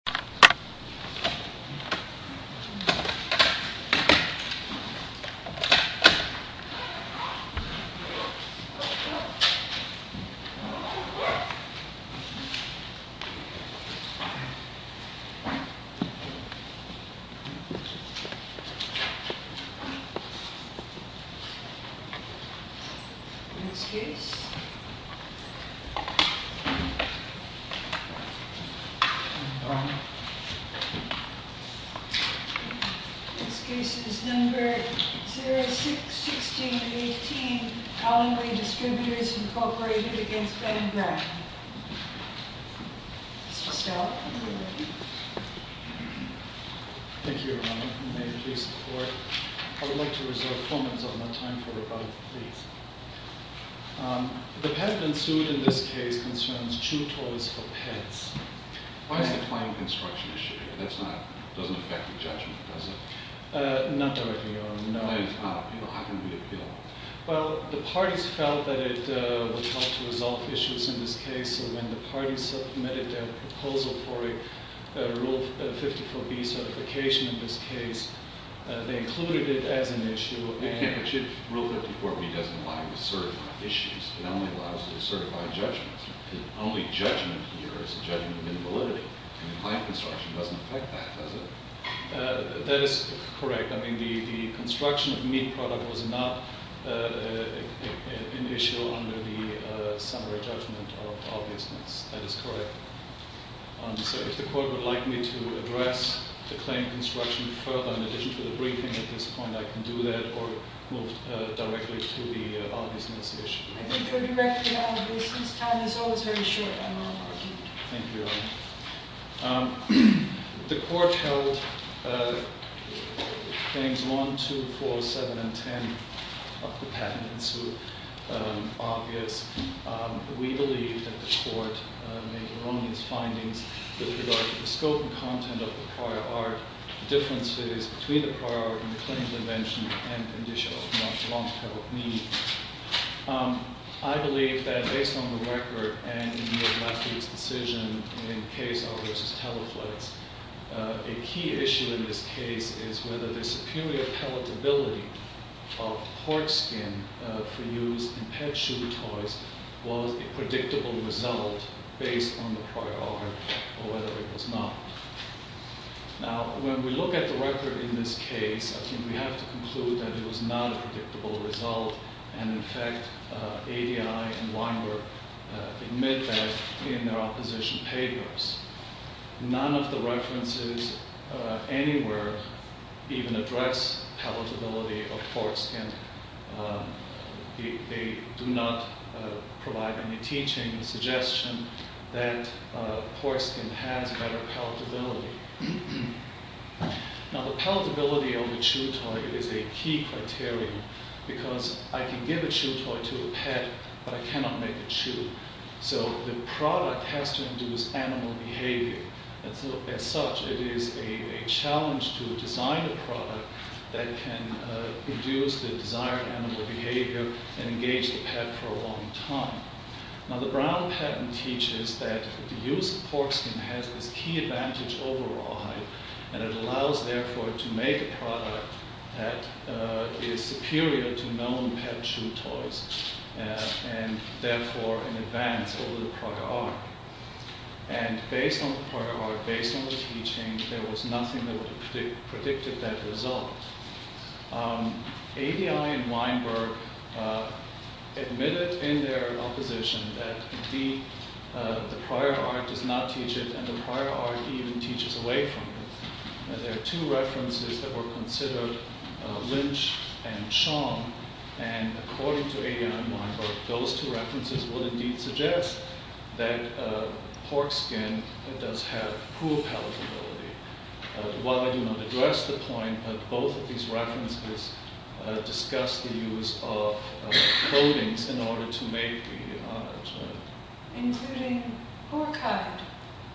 Brown Distributors v. Brown 06-16-18 Collingbury Distributors v. Brown Mr. Stout, are you ready? Thank you, Your Honor. May it please the Court. I would like to reserve four minutes of my time for rebuttal, please. The patent suit in this case concerns true tolls for pets. Why is the claim construction issue here? That doesn't affect the judgment, does it? Not directly, Your Honor, no. Then how can we appeal? Well, the parties felt that it would help to resolve issues in this case, so when the parties submitted their proposal for a Rule 54B certification in this case, they included it as an issue. But if Rule 54B doesn't align with certified issues, it only allows for certified judgments. The only judgment here is the judgment of invalidity, and the claim construction doesn't affect that, does it? That is correct. I mean, the construction of meat product was not an issue under the summary judgment of obviousness. That is correct. So if the Court would like me to address the claim construction further in addition to the briefing at this point, I can do that, or move directly to the obviousness issue. I think you're directly obvious. This time is always very short, I'm not arguing. Thank you, Your Honor. The Court held Claims 1, 2, 4, 7, and 10 of the patent in suit obvious. We believe that the Court made erroneous findings with regard to the scope and content of the prior art, the differences between the prior art and the clinical invention, and the condition of the martial law to help me. I believe that based on the record and in your last week's decision in Case R v. Teleflex, a key issue in this case is whether the superior palatability of pork skin for use in pet chew toys was a predictable result based on the prior art, or whether it was not. Now, when we look at the record in this case, I think we have to conclude that it was not a predictable result, and in fact, ADI and Weinberg admit that in their opposition papers. None of the references anywhere even address palatability of pork skin. They do not provide any teaching or suggestion that pork skin has better palatability. Now, the palatability of a chew toy is a key criterion, because I can give a chew toy to a pet, but I cannot make it chew. So the product has to induce animal behavior. As such, it is a challenge to design a product that can induce the desired animal behavior and engage the pet for a long time. Now, the Brown patent teaches that the use of pork skin has this key advantage over rawhide, and it allows, therefore, to make a product that is superior to known pet chew toys, and therefore in advance over the prior art. And based on the prior art, based on the teaching, there was nothing that would have predicted that result. ADI and Weinberg admitted in their opposition that the prior art does not teach it, and the prior art even teaches away from it. There are two references that were considered, Lynch and Chong, and according to ADI and Weinberg, those two references would indeed suggest that pork skin does have poor palatability. While I do not address the point, both of these references discuss the use of coatings in order to make the product. Including pork hide.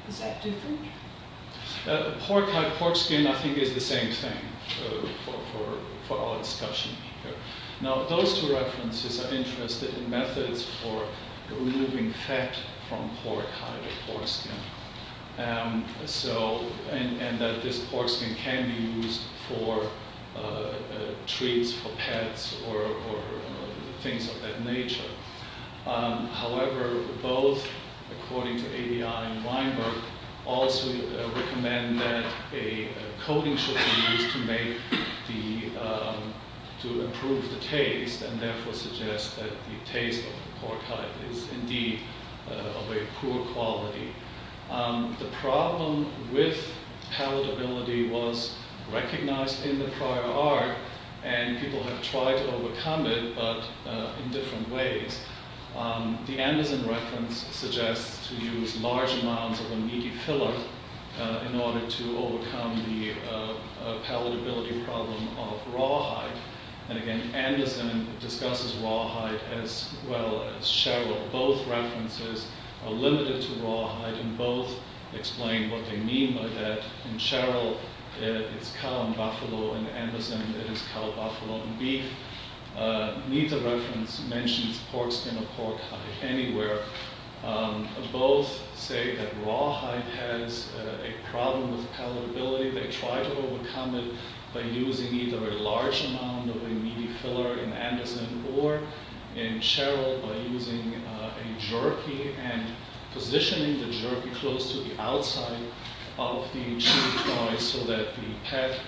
Is that different? Pork hide, pork skin, I think is the same thing for our discussion here. Now, those two references are interested in methods for removing fat from pork hide or pork skin. And that this pork skin can be used for treats for pets or things of that nature. However, both, according to ADI and Weinberg, also recommend that a coating should be used to improve the taste, and therefore suggest that the taste of pork hide is indeed of a poor quality. The problem with palatability was recognized in the prior art, and people have tried to overcome it, but in different ways. The Anderson reference suggests to use large amounts of a meaty filler in order to overcome the palatability problem of raw hide. And again, Anderson discusses raw hide as well as Sherrill. Both references are limited to raw hide, and both explain what they mean by that. In Sherrill, it's cow and buffalo, and in Anderson, it is cow, buffalo, and beef. Neither reference mentions pork skin or pork hide anywhere. Both say that raw hide has a problem with palatability. They try to overcome it by using either a large amount of a meaty filler in Anderson or in Sherrill by using a jerky and positioning the jerky close to the outside of the cheek so that the pet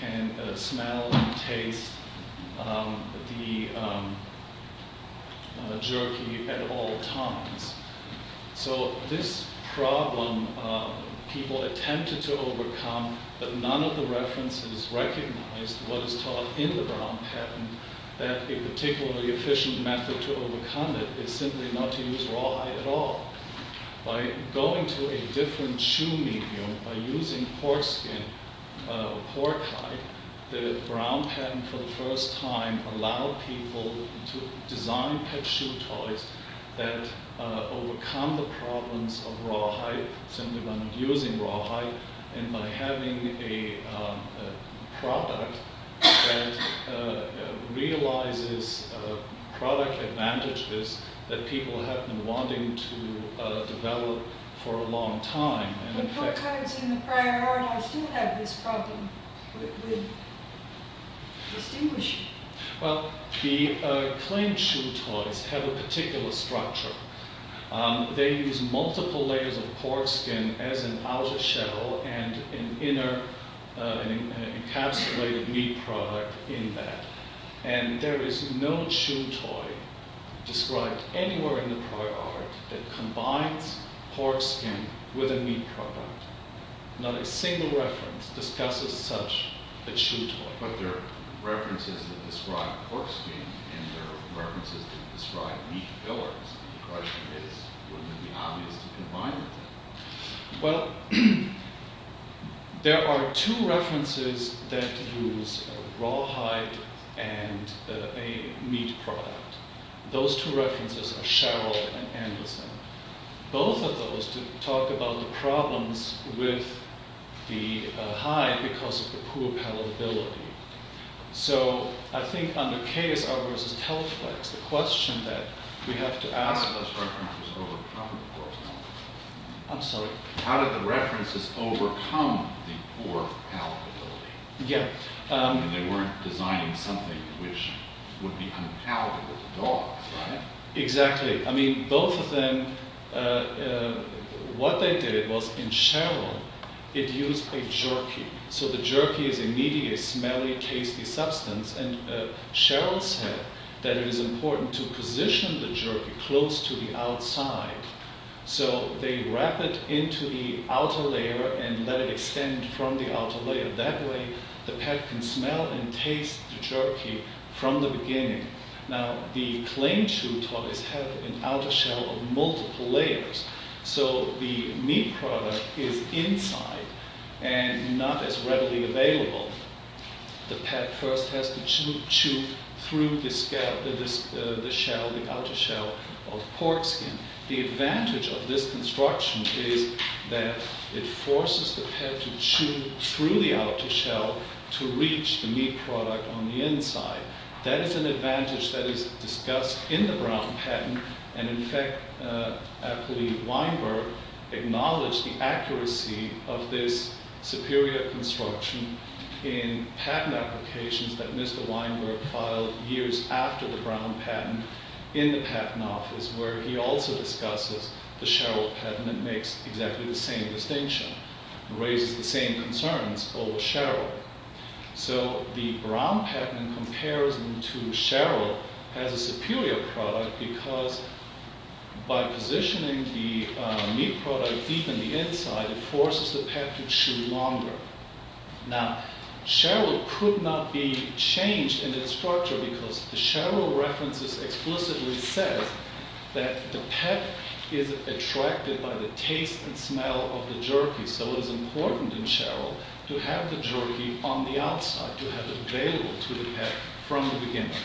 can smell and taste the jerky at all times. So this problem, people attempted to overcome, but none of the references recognized what is taught in the Brown Patent, and that a particularly efficient method to overcome it is simply not to use raw hide at all. By going to a different shoe medium, by using pork skin or pork hide, the Brown Patent for the first time allowed people to design pet shoe toys that overcome the problems of raw hide simply by not using raw hide, and by having a product that realizes product advantages that people have been wanting to develop for a long time. But what kinds in the prior R&R still have this problem with distinguishing? Well, the claimed shoe toys have a particular structure. They use multiple layers of pork skin as an outer shell and an inner encapsulated meat product in that. And there is no shoe toy described anywhere in the prior R&R that combines pork skin with a meat product. Not a single reference discusses such a shoe toy. But there are references that describe pork skin and there are references that describe meat fillers. The question is, would it be obvious to combine the two? Well, there are two references that use raw hide and a meat product. Those two references are Sherrill and Anderson. Both of those talk about the problems with the hide because of the poor palatability. So, I think under KSR versus Telflex, the question that we have to ask... How did those references overcome the poor palatability? I'm sorry? How did the references overcome the poor palatability? Yeah. And they weren't designing something which would be unpalatable to dogs, right? Exactly. I mean, both of them... What they did was, in Sherrill, it used a jerky. So, the jerky is a meaty, smelly, tasty substance. And Sherrill said that it is important to position the jerky close to the outside. So, they wrap it into the outer layer and let it extend from the outer layer. That way, the pet can smell and taste the jerky from the beginning. Now, the claimed chew toys have an outer shell of multiple layers. So, the meat product is inside and not as readily available. The pet first has to chew through the shell, the outer shell of pork skin. The advantage of this construction is that it forces the pet to chew through the outer shell to reach the meat product on the inside. That is an advantage that is discussed in the Brown patent. And, in fact, I believe Weinberg acknowledged the accuracy of this superior construction in patent applications that Mr. Weinberg filed years after the Brown patent in the patent office where he also discusses the Sherrill patent that makes exactly the same distinction and raises the same concerns over Sherrill. So, the Brown patent in comparison to Sherrill has a superior product because by positioning the meat product deep in the inside, it forces the pet to chew longer. Now, Sherrill could not be changed in its structure because the Sherrill references explicitly said that the pet is attracted by the taste and smell of the jerky. So, it is important in Sherrill to have the jerky on the outside, to have it available to the pet from the beginning.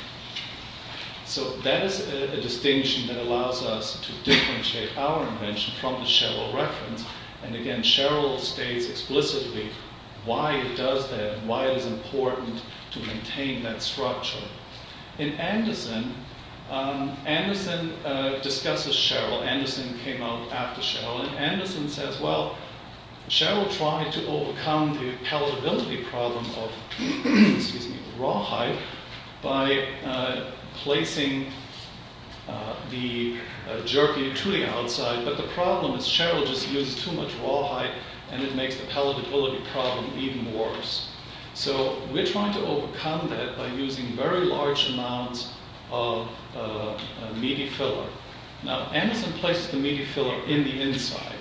So, that is a distinction that allows us to differentiate our invention from the Sherrill reference. And, again, Sherrill states explicitly why it does that and why it is important to maintain that structure. In Anderson, Anderson discusses Sherrill. Anderson came out after Sherrill. And, Anderson says, well, Sherrill tried to overcome the palatability problem of rawhide by placing the jerky to the outside. But, the problem is Sherrill just uses too much rawhide and it makes the palatability problem even worse. So, we are trying to overcome that by using very large amounts of meaty filler. Now, Anderson places the meaty filler in the inside.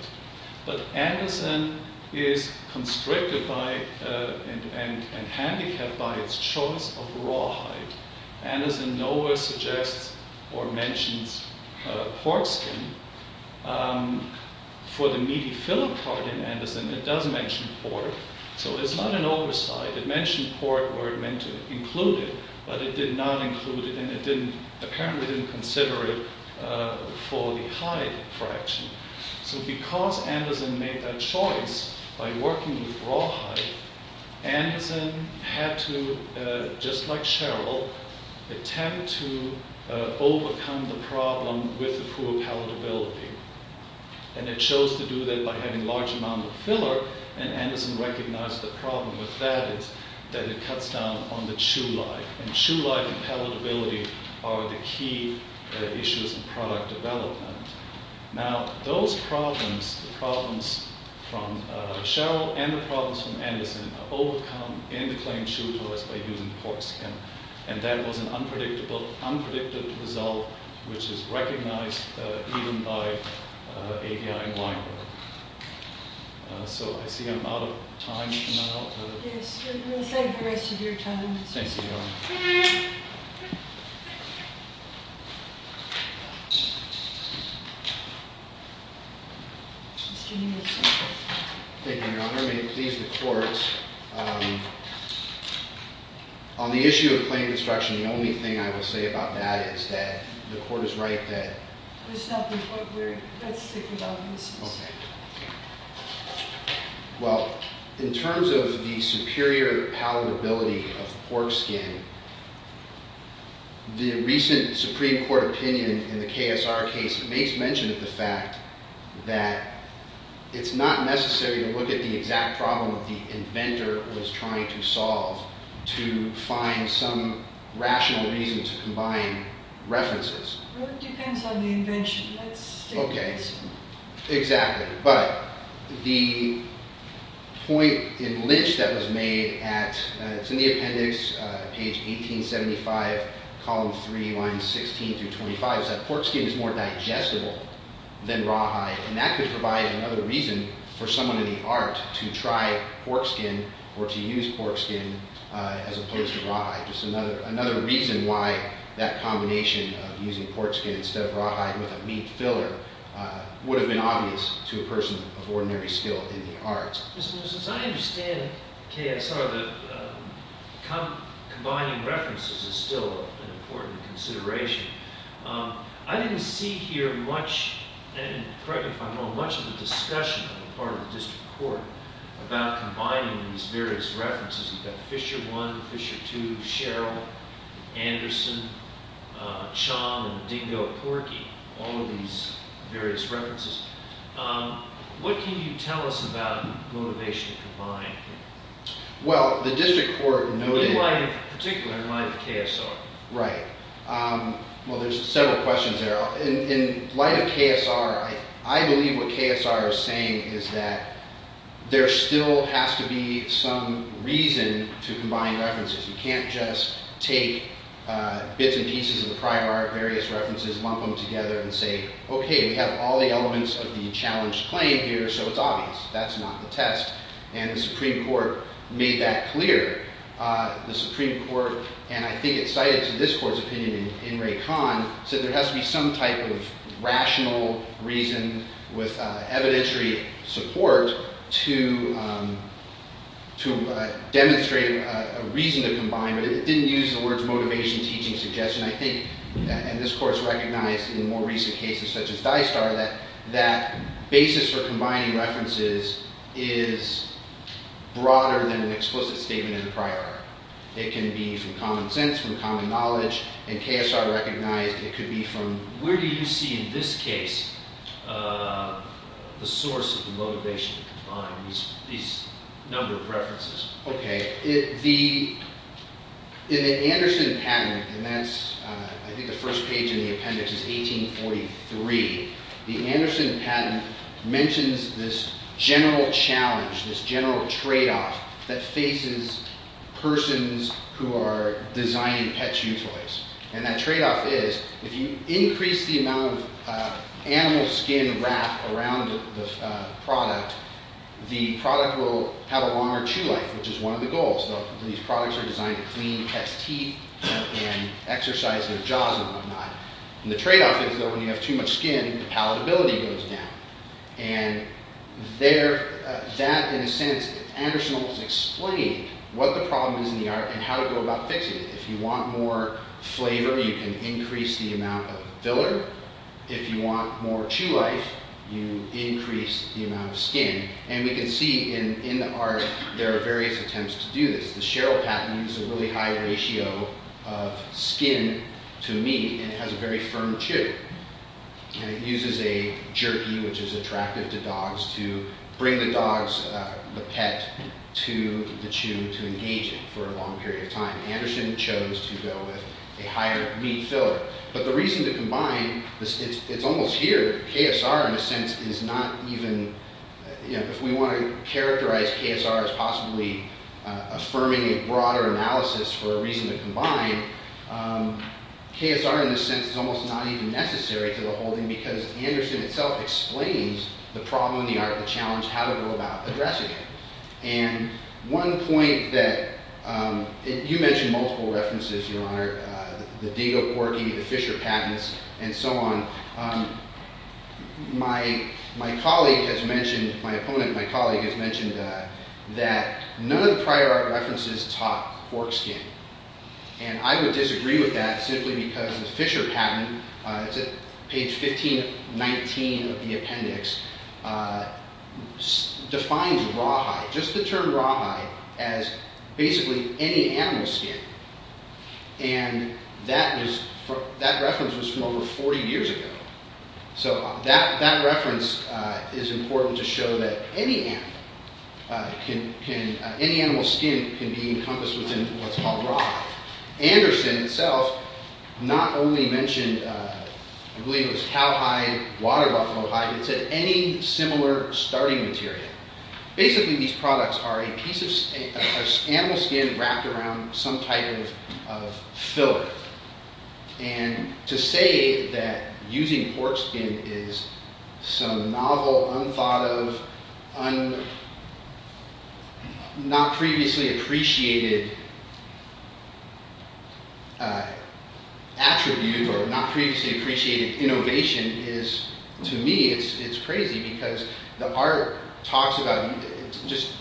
But, Anderson is constricted by and handicapped by its choice of rawhide. Anderson nowhere suggests or mentions pork skin. For the meaty filler part in Anderson, it does mention pork. So, it is not an oversight. It mentioned pork where it meant to include it, but it did not include it. And, it apparently didn't consider it for the hide fraction. So, because Anderson made that choice by working with rawhide, Anderson had to, just like Sherrill, attempt to overcome the problem with the poor palatability. And, it chose to do that by having a large amount of filler. And, Anderson recognized the problem with that is that it cuts down on the chew life. And, chew life and palatability are the key issues in product development. Now, those problems, the problems from Sherrill and the problems from Anderson, are overcome in the claimed chew toys by using pork skin. And, that was an unpredictable, unpredicted result, which is recognized even by AVI and Weinberg. So, I see I'm out of time. Yes, we'll save the rest of your time. Thank you, Your Honor. Thank you, Your Honor. May it please the court, on the issue of claimed construction, the only thing I will say about that is that the court is right that- Let's think about this. Well, in terms of the superior palatability of pork skin, the recent Supreme Court opinion in the KSR case makes mention of the fact that it's not necessary to look at the exact problem that the inventor was trying to solve to find some rational reason to combine references. Well, it depends on the invention. Let's stick with this one. Okay, exactly. But, the point in Lynch that was made at, it's in the appendix, page 1875, column 3, lines 16 through 25, is that pork skin is more digestible than rawhide. And, that could provide another reason for someone in the art to try pork skin or to use pork skin as opposed to rawhide. Just another reason why that combination of using pork skin instead of rawhide with a meat filler would have been obvious to a person of ordinary skill in the arts. Mr. Moses, I understand at KSR that combining references is still an important consideration. I didn't see here much, and correct me if I'm wrong, much of the discussion on the part of the district court about combining these various references. You've got Fisher I, Fisher II, Sherrill, Anderson, Chom, and Dingo Porky, all of these various references. What can you tell us about motivation to combine? Well, the district court noted... In light of, particularly in light of KSR. Right. Well, there's several questions there. In light of KSR, I believe what KSR is saying is that there still has to be some reason to combine references. You can't just take bits and pieces of the prior art, various references, lump them together and say, okay, we have all the elements of the challenged claim here, so it's obvious. That's not the test. And, the Supreme Court made that clear. The Supreme Court, and I think it's cited to this court's opinion in Ray Kahn, said there has to be some type of rational reason with evidentiary support to demonstrate a reason to combine, but it didn't use the words motivation, teaching, suggestion. I think, and this court's recognized in more recent cases such as DISTAR, that that basis for combining references is broader than an explicit statement in the prior art. It can be from common sense, from common knowledge, and KSR recognized it could be from... Where do you see in this case the source of the motivation to combine these number of preferences? Okay. In the Anderson patent, and that's, I think the first page in the appendix is 1843, the Anderson patent mentions this general challenge, this general tradeoff, that faces persons who are designing pet chew toys. And that tradeoff is, if you increase the amount of animal skin wrapped around the product, the product will have a longer chew life, which is one of the goals. These products are designed to clean pets' teeth and exercise their jaws and whatnot. And the tradeoff is that when you have too much skin, the palatability goes down. And that, in a sense, Anderson almost explained what the problem is in the art and how to go about fixing it. If you want more flavor, you can increase the amount of filler. If you want more chew life, you increase the amount of skin. And we can see in the art there are various attempts to do this. The Sheryl patent is a really high ratio of skin to meat, and it has a very firm chew. And it uses a jerky, which is attractive to dogs, to bring the pet to the chew to engage it for a long period of time. Anderson chose to go with a higher meat filler. But the reason to combine, it's almost here, KSR in a sense is not even, if we want to characterize KSR as possibly affirming a broader analysis for a reason to combine, KSR in a sense is almost not even necessary to the whole thing because Anderson itself explains the problem in the art, the challenge, how to go about addressing it. And one point that, you mentioned multiple references, Your Honor, the Degas Quirky, the Fisher patents, and so on. My colleague has mentioned, my opponent, my colleague has mentioned that none of the prior art references taught pork skin. And I would disagree with that simply because the Fisher patent, it's at page 1519 of the appendix, defines rawhide, just the term rawhide, as basically any animal skin. And that reference was from over 40 years ago. So that reference is important to show that any animal skin can be encompassed within what's called rawhide. Anderson itself not only mentioned, I believe it was cowhide, water buffalo hide, it said any similar starting material. Basically these products are a piece of animal skin wrapped around some type of filler. And to say that using pork skin is some novel, unthought of, not previously appreciated attribute or not previously appreciated innovation is, to me, it's crazy because the art talks about, just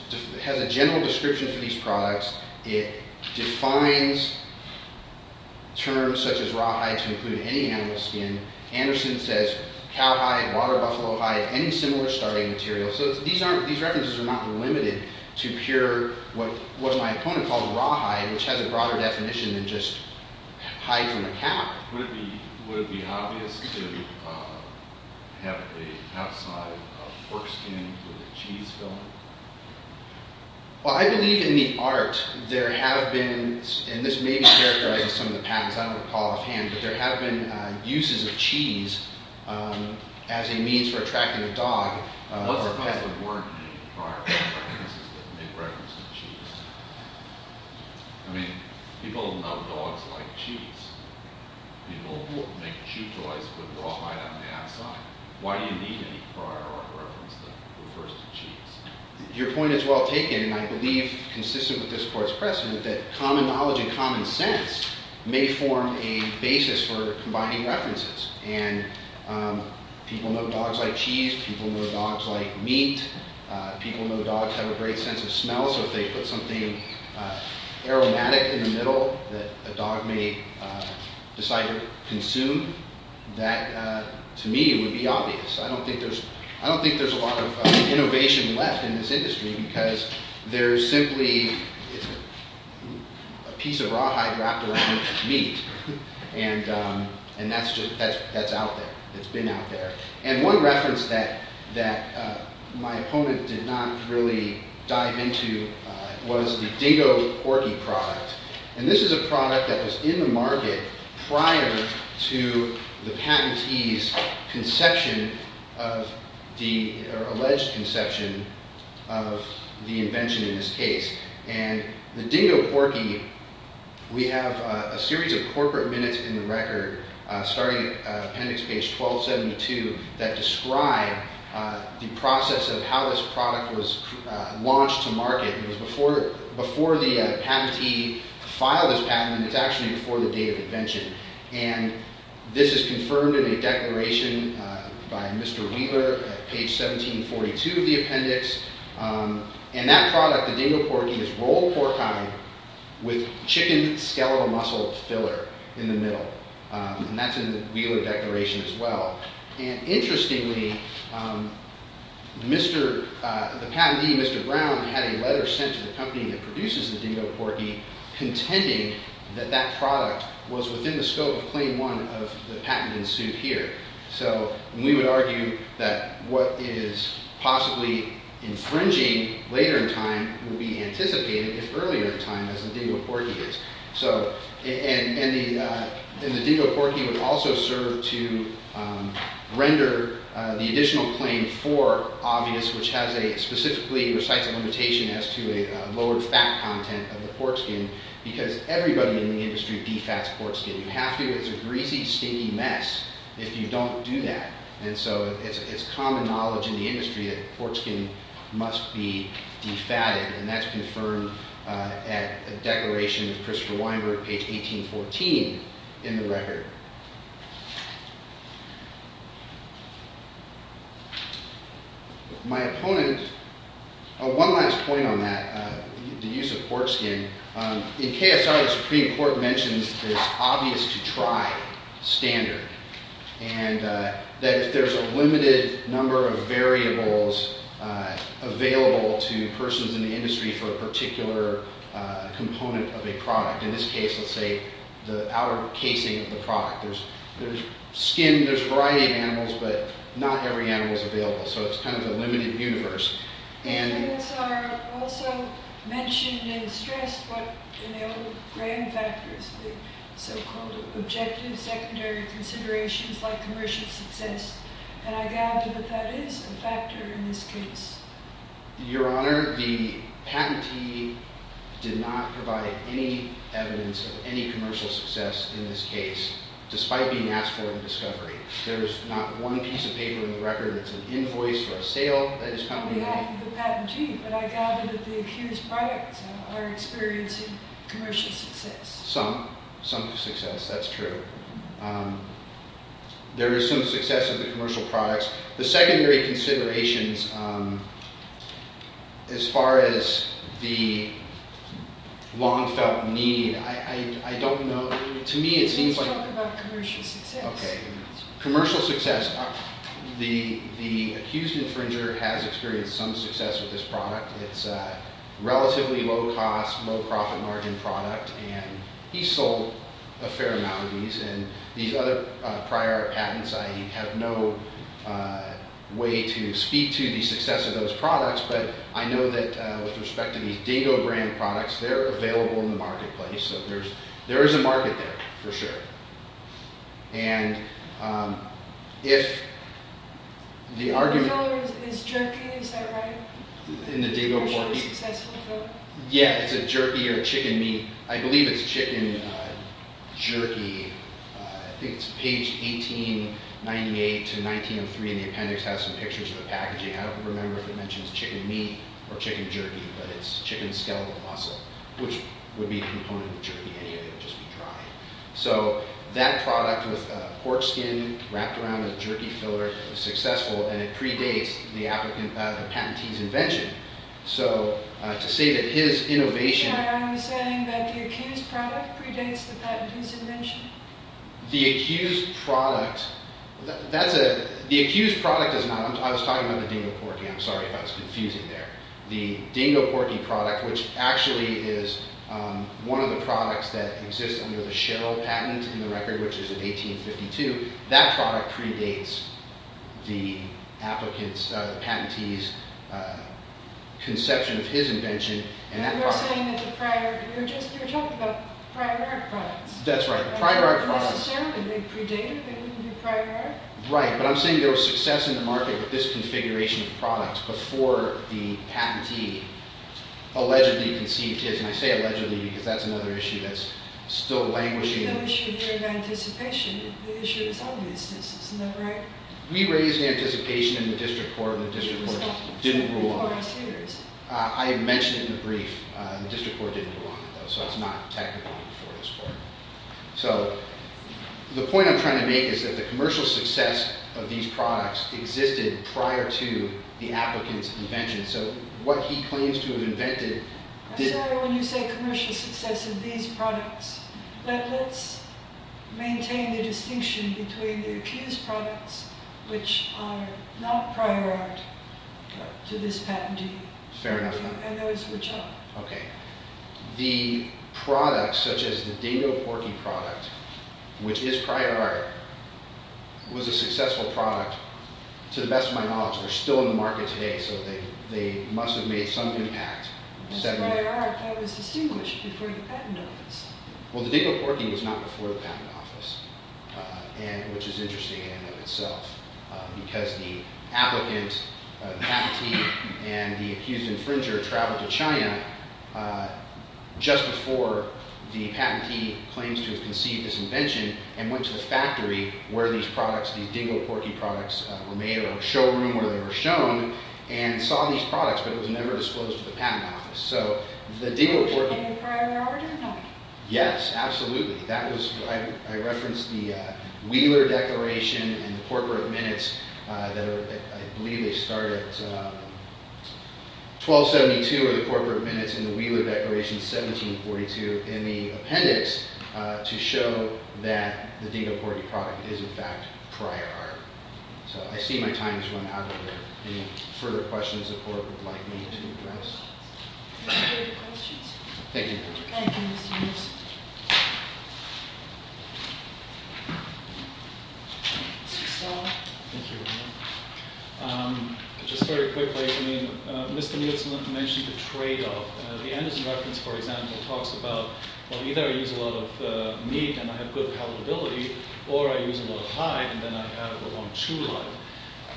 has a general description for these products. It defines terms such as rawhide to include any animal skin. Anderson says cowhide, water buffalo hide, any similar starting material. So these references are not limited to pure, what my opponent called rawhide, which has a broader definition than just hide from a cow. Would it be obvious to have the outside of pork skin with a cheese filling? Well, I believe in the art there have been, and this maybe characterizes some of the patterns, I don't recall offhand, but there have been uses of cheese as a means for attracting a dog. What's the purpose of the word in prior art references that make reference to cheese? I mean, people love dogs like cheese. People who make chew toys put rawhide on the outside. Why do you need any prior art reference that refers to cheese? Your point is well taken, and I believe, consistent with this court's precedent, that common knowledge and common sense may form a basis for combining references. And people know dogs like cheese, people know dogs like meat, people know dogs have a great sense of smell, so if they put something aromatic in the middle that a dog may decide to consume, that to me would be obvious. I don't think there's a lot of innovation left in this industry because there's simply a piece of rawhide wrapped around meat, and that's out there, it's been out there. And one reference that my opponent did not really dive into was the Dingo Porky product. And this is a product that was in the market prior to the patentee's conception, or alleged conception, of the invention in this case. And the Dingo Porky, we have a series of corporate minutes in the record, starting at appendix page 1272, that describe the process of how this product was launched to market. It was before the patentee filed his patent, and it's actually before the date of invention. And this is confirmed in a declaration by Mr. Wheeler, page 1742 of the appendix. And that product, the Dingo Porky, is rolled pork pie with chicken skeletal muscle filler in the middle. And that's in the Wheeler declaration as well. And interestingly, the patentee, Mr. Brown, had a letter sent to the company that produces the Dingo Porky contending that that product was within the scope of claim one of the patent in suit here. So we would argue that what is possibly infringing later in time would be anticipated if earlier in time, as the Dingo Porky is. And the Dingo Porky would also serve to render the additional claim for obvious, which specifically recites a limitation as to a lowered fat content of the pork skin, because everybody in the industry defats pork skin. You have to. It's a greasy, stinky mess if you don't do that. And so it's common knowledge in the industry that pork skin must be defatted. And that's confirmed at a declaration, Christopher Weinberg, page 1814 in the record. My opponent, one last point on that, the use of pork skin. In KSR, the Supreme Court mentions that it's obvious to try standard. And that if there's a limited number of variables available to persons in the industry for a particular component of a product, in this case, let's say, the outer casing of the product. There's skin, there's a variety of animals, but not every animal is available. So it's kind of a limited universe. In KSR, also mentioned and stressed what enabled brain factors, the so-called objective secondary considerations like commercial success. And I gather that that is a factor in this case. Your Honor, the patentee did not provide any evidence of any commercial success in this case, despite being asked for it in discovery. There's not one piece of paper in the record that's an invoice for a sale that his company made. On behalf of the patentee, but I gather that the accused products are experiencing commercial success. Some success, that's true. There is some success of the commercial products. The secondary considerations, as far as the long-felt need, I don't know. Let's talk about commercial success. Commercial success. The accused infringer has experienced some success with this product. It's a relatively low-cost, low-profit margin product. And he sold a fair amount of these. And these other prior patents, I have no way to speak to the success of those products. But I know that with respect to these Dato brand products, they're available in the marketplace. So there is a market there, for sure. And if the argument is jerky, is that right? In the DATO report? Yeah, it's a jerky or chicken meat. I believe it's chicken jerky. I think it's page 1898 to 1903, and the appendix has some pictures of the packaging. I don't remember if it mentions chicken meat or chicken jerky, but it's chicken skeletal muscle, which would be a component of jerky. So that product with pork skin wrapped around a jerky filler was successful, and it predates the patentee's invention. So to say that his innovation... I'm saying that the accused product predates the patentee's invention. The accused product... The accused product is not... I was talking about the Dingo Porky. I'm sorry if I was confusing there. The Dingo Porky product, which actually is one of the products that exists under the Sherrill patent in the record, which is in 1852, that product predates the applicant's, the patentee's, conception of his invention. And you're saying that the prior... you were just... you were talking about prior art products. That's right. Necessarily, they predated the prior art. Right, but I'm saying there was success in the market with this configuration of products before the patentee allegedly conceived his. And I say allegedly because that's another issue that's still languishing. The issue here is anticipation. The issue is obviousness. Isn't that right? We raised anticipation in the district court, and the district court didn't rule on it. I mentioned it in the brief. The district court didn't rule on it, though, so it's not technically before this court. So the point I'm trying to make is that the commercial success of these products existed prior to the applicant's invention. So what he claims to have invented... I'm sorry when you say commercial success of these products, but let's maintain the distinction between the accused products, which are not prior art, to this patentee. Fair enough. And those which are. The product, such as the Dingo Porky product, which is prior art, was a successful product to the best of my knowledge. They're still in the market today, so they must have made some impact. That's prior art. That was distinguished before the patent office. Well, the Dingo Porky was not before the patent office, which is interesting in and of itself, because the applicant, the patentee, and the accused infringer traveled to China just before the patentee claims to have conceived this invention and went to the factory where these products, these Dingo Porky products, were made or a showroom where they were shown and saw these products, but it was never disclosed to the patent office. So the Dingo Porky... Was it made prior to their origin? No. Yes, absolutely. I referenced the Wheeler Declaration and the Portworth Minutes that I believe they started at 1272 or the Portworth Minutes and the Wheeler Declaration, 1742, in the appendix to show that the Dingo Porky product is, in fact, prior art. So I see my time has run out over there. Any further questions the court would like me to address? Are there any further questions? Thank you. Thank you, Mr. Nielsen. Mr. Stahl? Thank you very much. Just very quickly, I mean, Mr. Nielsen mentioned the tradeoff. The Anderson reference, for example, talks about, well, either I use a lot of meat and I have good palatability or I use a lot of hide and then I have a long chew life.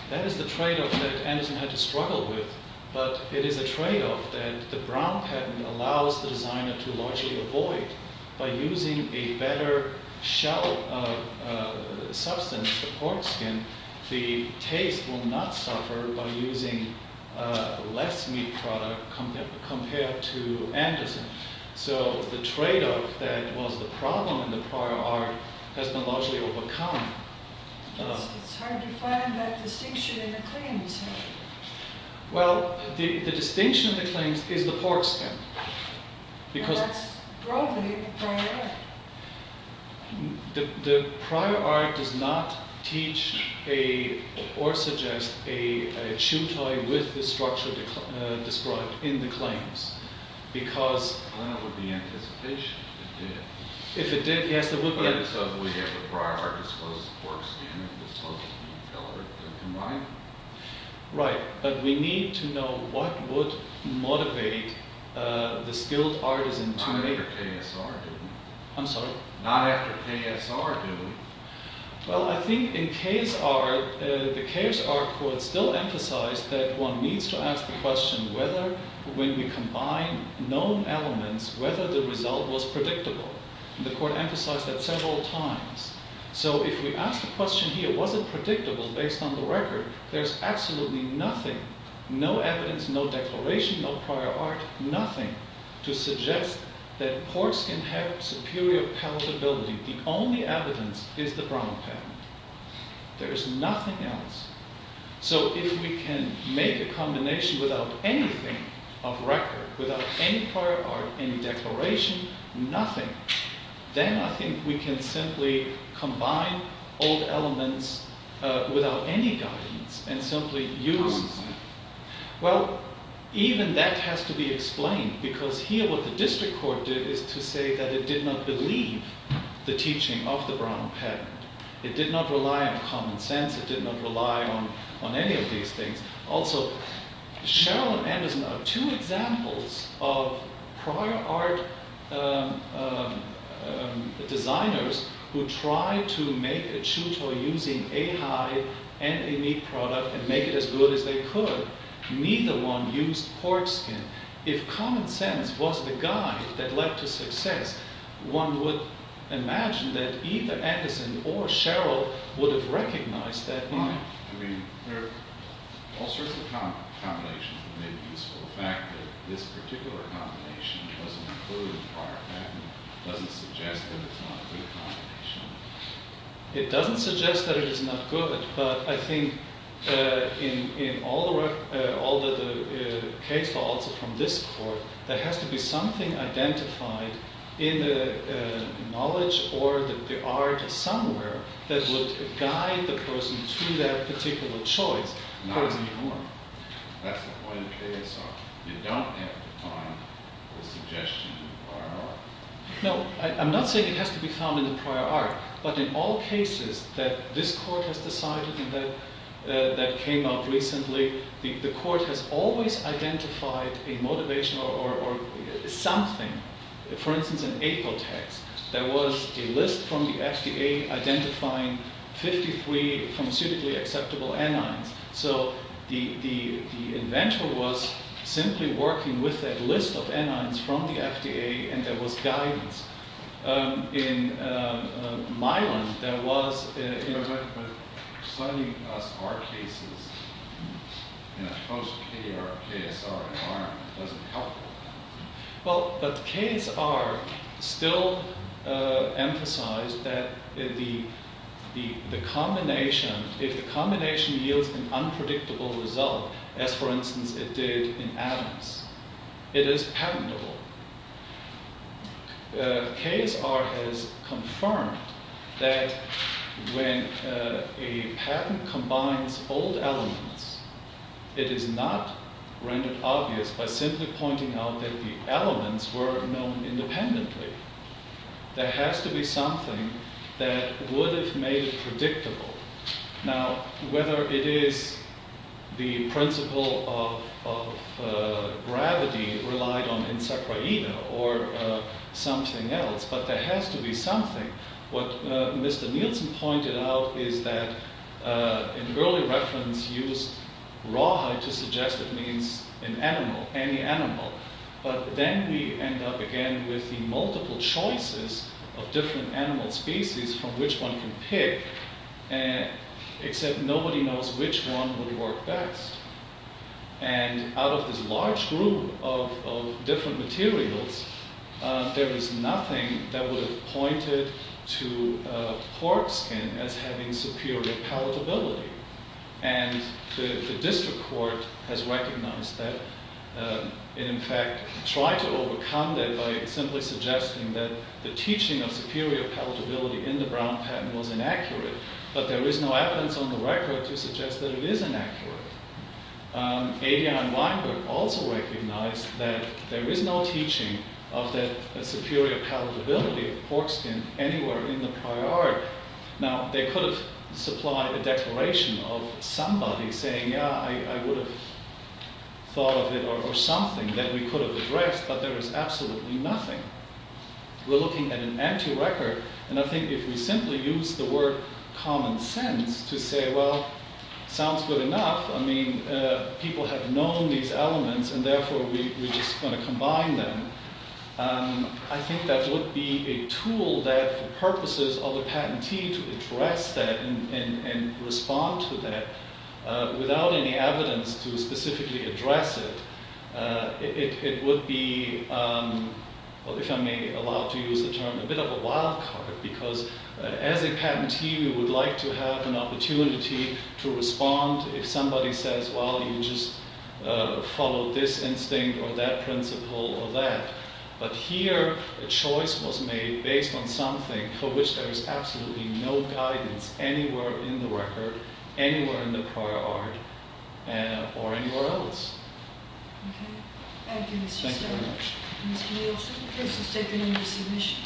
That is the tradeoff that Anderson had to struggle with, but it is a tradeoff that the Brown patent allows the designer to largely avoid by using a better shell of substance, the pork skin. The taste will not suffer by using less meat product compared to Anderson. So the tradeoff that was the problem in the prior art has been largely overcome. It's hard to find that distinction in the claims. Well, the distinction of the claims is the pork skin and that's broadly the prior art. The prior art does not teach or suggest a chew toy with the structure described in the claims. Well, then it would be anticipation if it did. If it did, yes, it would be. So if we get the prior art, it's supposed to be the pork skin and it's supposed to be the fillet that are combined? Right. But we need to know what would motivate the skilled artisan to make it. Not after KSR, do we? I'm sorry? Not after KSR, do we? Well, I think in KSR, the KSR court still emphasized that one needs to ask the question whether when we combine known elements, whether the result was predictable. The court emphasized that several times. So if we ask the question here, was it predictable based on the record, there's absolutely nothing, no evidence, no declaration, no prior art, nothing to suggest that pork skin had superior palatability. The only evidence is the brown patent. There is nothing else. So if we can make a combination without anything of record, without any prior art, any declaration, nothing, then I think we can simply combine old elements without any guidance and simply use them. Well, even that has to be explained because here what the district court did is to say that it did not believe the teaching of the brown patent. It did not rely on common sense. It did not rely on any of these things. Also, Sheryl and Anderson are two examples of prior art designers who tried to make a tuto using a hide and a meat product and make it as good as they could. Neither one used pork skin. If common sense was the guide that led to success, one would imagine that either Anderson or Sheryl would have recognized that line. I mean, there are all sorts of combinations that may be useful. The fact that this particular combination wasn't included in the prior patent doesn't suggest that it's not a good combination. It doesn't suggest that it is not good, but I think in all the case files from this court, there has to be something identified in the knowledge or the art somewhere that would guide the person to that particular choice. Not anymore. That's the point of KSR. You don't have to find the suggestion in the prior art. No, I'm not saying it has to be found in the prior art, but in all cases that this court has decided and that came out recently, the court has always identified a motivation or something. For instance, in Apotex, there was a list from the FDA identifying 53 pharmaceutically acceptable anions. So the invention was simply working with a list of anions from the FDA, and there was guidance. In my one, there was— But studying us, our cases, in a post-K or KSR environment doesn't help with that. Well, but KSR still emphasized that if the combination yields an unpredictable result, as, for instance, it did in atoms, it is patentable. KSR has confirmed that when a patent combines old elements, it is not rendered obvious by simply pointing out that the elements were known independently. There has to be something that would have made it predictable. Now, whether it is the principle of gravity relied on in Sequeira or something else, but there has to be something. What Mr. Nielsen pointed out is that, in early reference, he used rawhide to suggest it means an animal, any animal. But then we end up again with the multiple choices of different animal species from which one can pick, except nobody knows which one would work best. And out of this large group of different materials, there is nothing that would have pointed to pork skin as having superior palatability. And the district court has recognized that, and in fact tried to overcome that by simply suggesting that the teaching of superior palatability in the Brown patent was inaccurate, but there is no evidence on the record to suggest that it is inaccurate. Adrian Weinberg also recognized that there is no teaching of that superior palatability of pork skin anywhere in the prior art. Now, they could have supplied a declaration of somebody saying, yeah, I would have thought of it or something that we could have addressed, but there is absolutely nothing. We're looking at an empty record, and I think if we simply use the word common sense to say, well, sounds good enough. I mean, people have known these elements, and therefore we're just going to combine them. I think that would be a tool that, for purposes of a patentee, to address that and respond to that without any evidence to specifically address it. It would be, if I may allow to use the term, a bit of a wild card, because as a patentee, we would like to have an opportunity to respond if somebody says, well, you just follow this instinct or that principle or that. But here, a choice was made based on something for which there is absolutely no guidance anywhere in the record, anywhere in the prior art, or anywhere else. Thank you very much.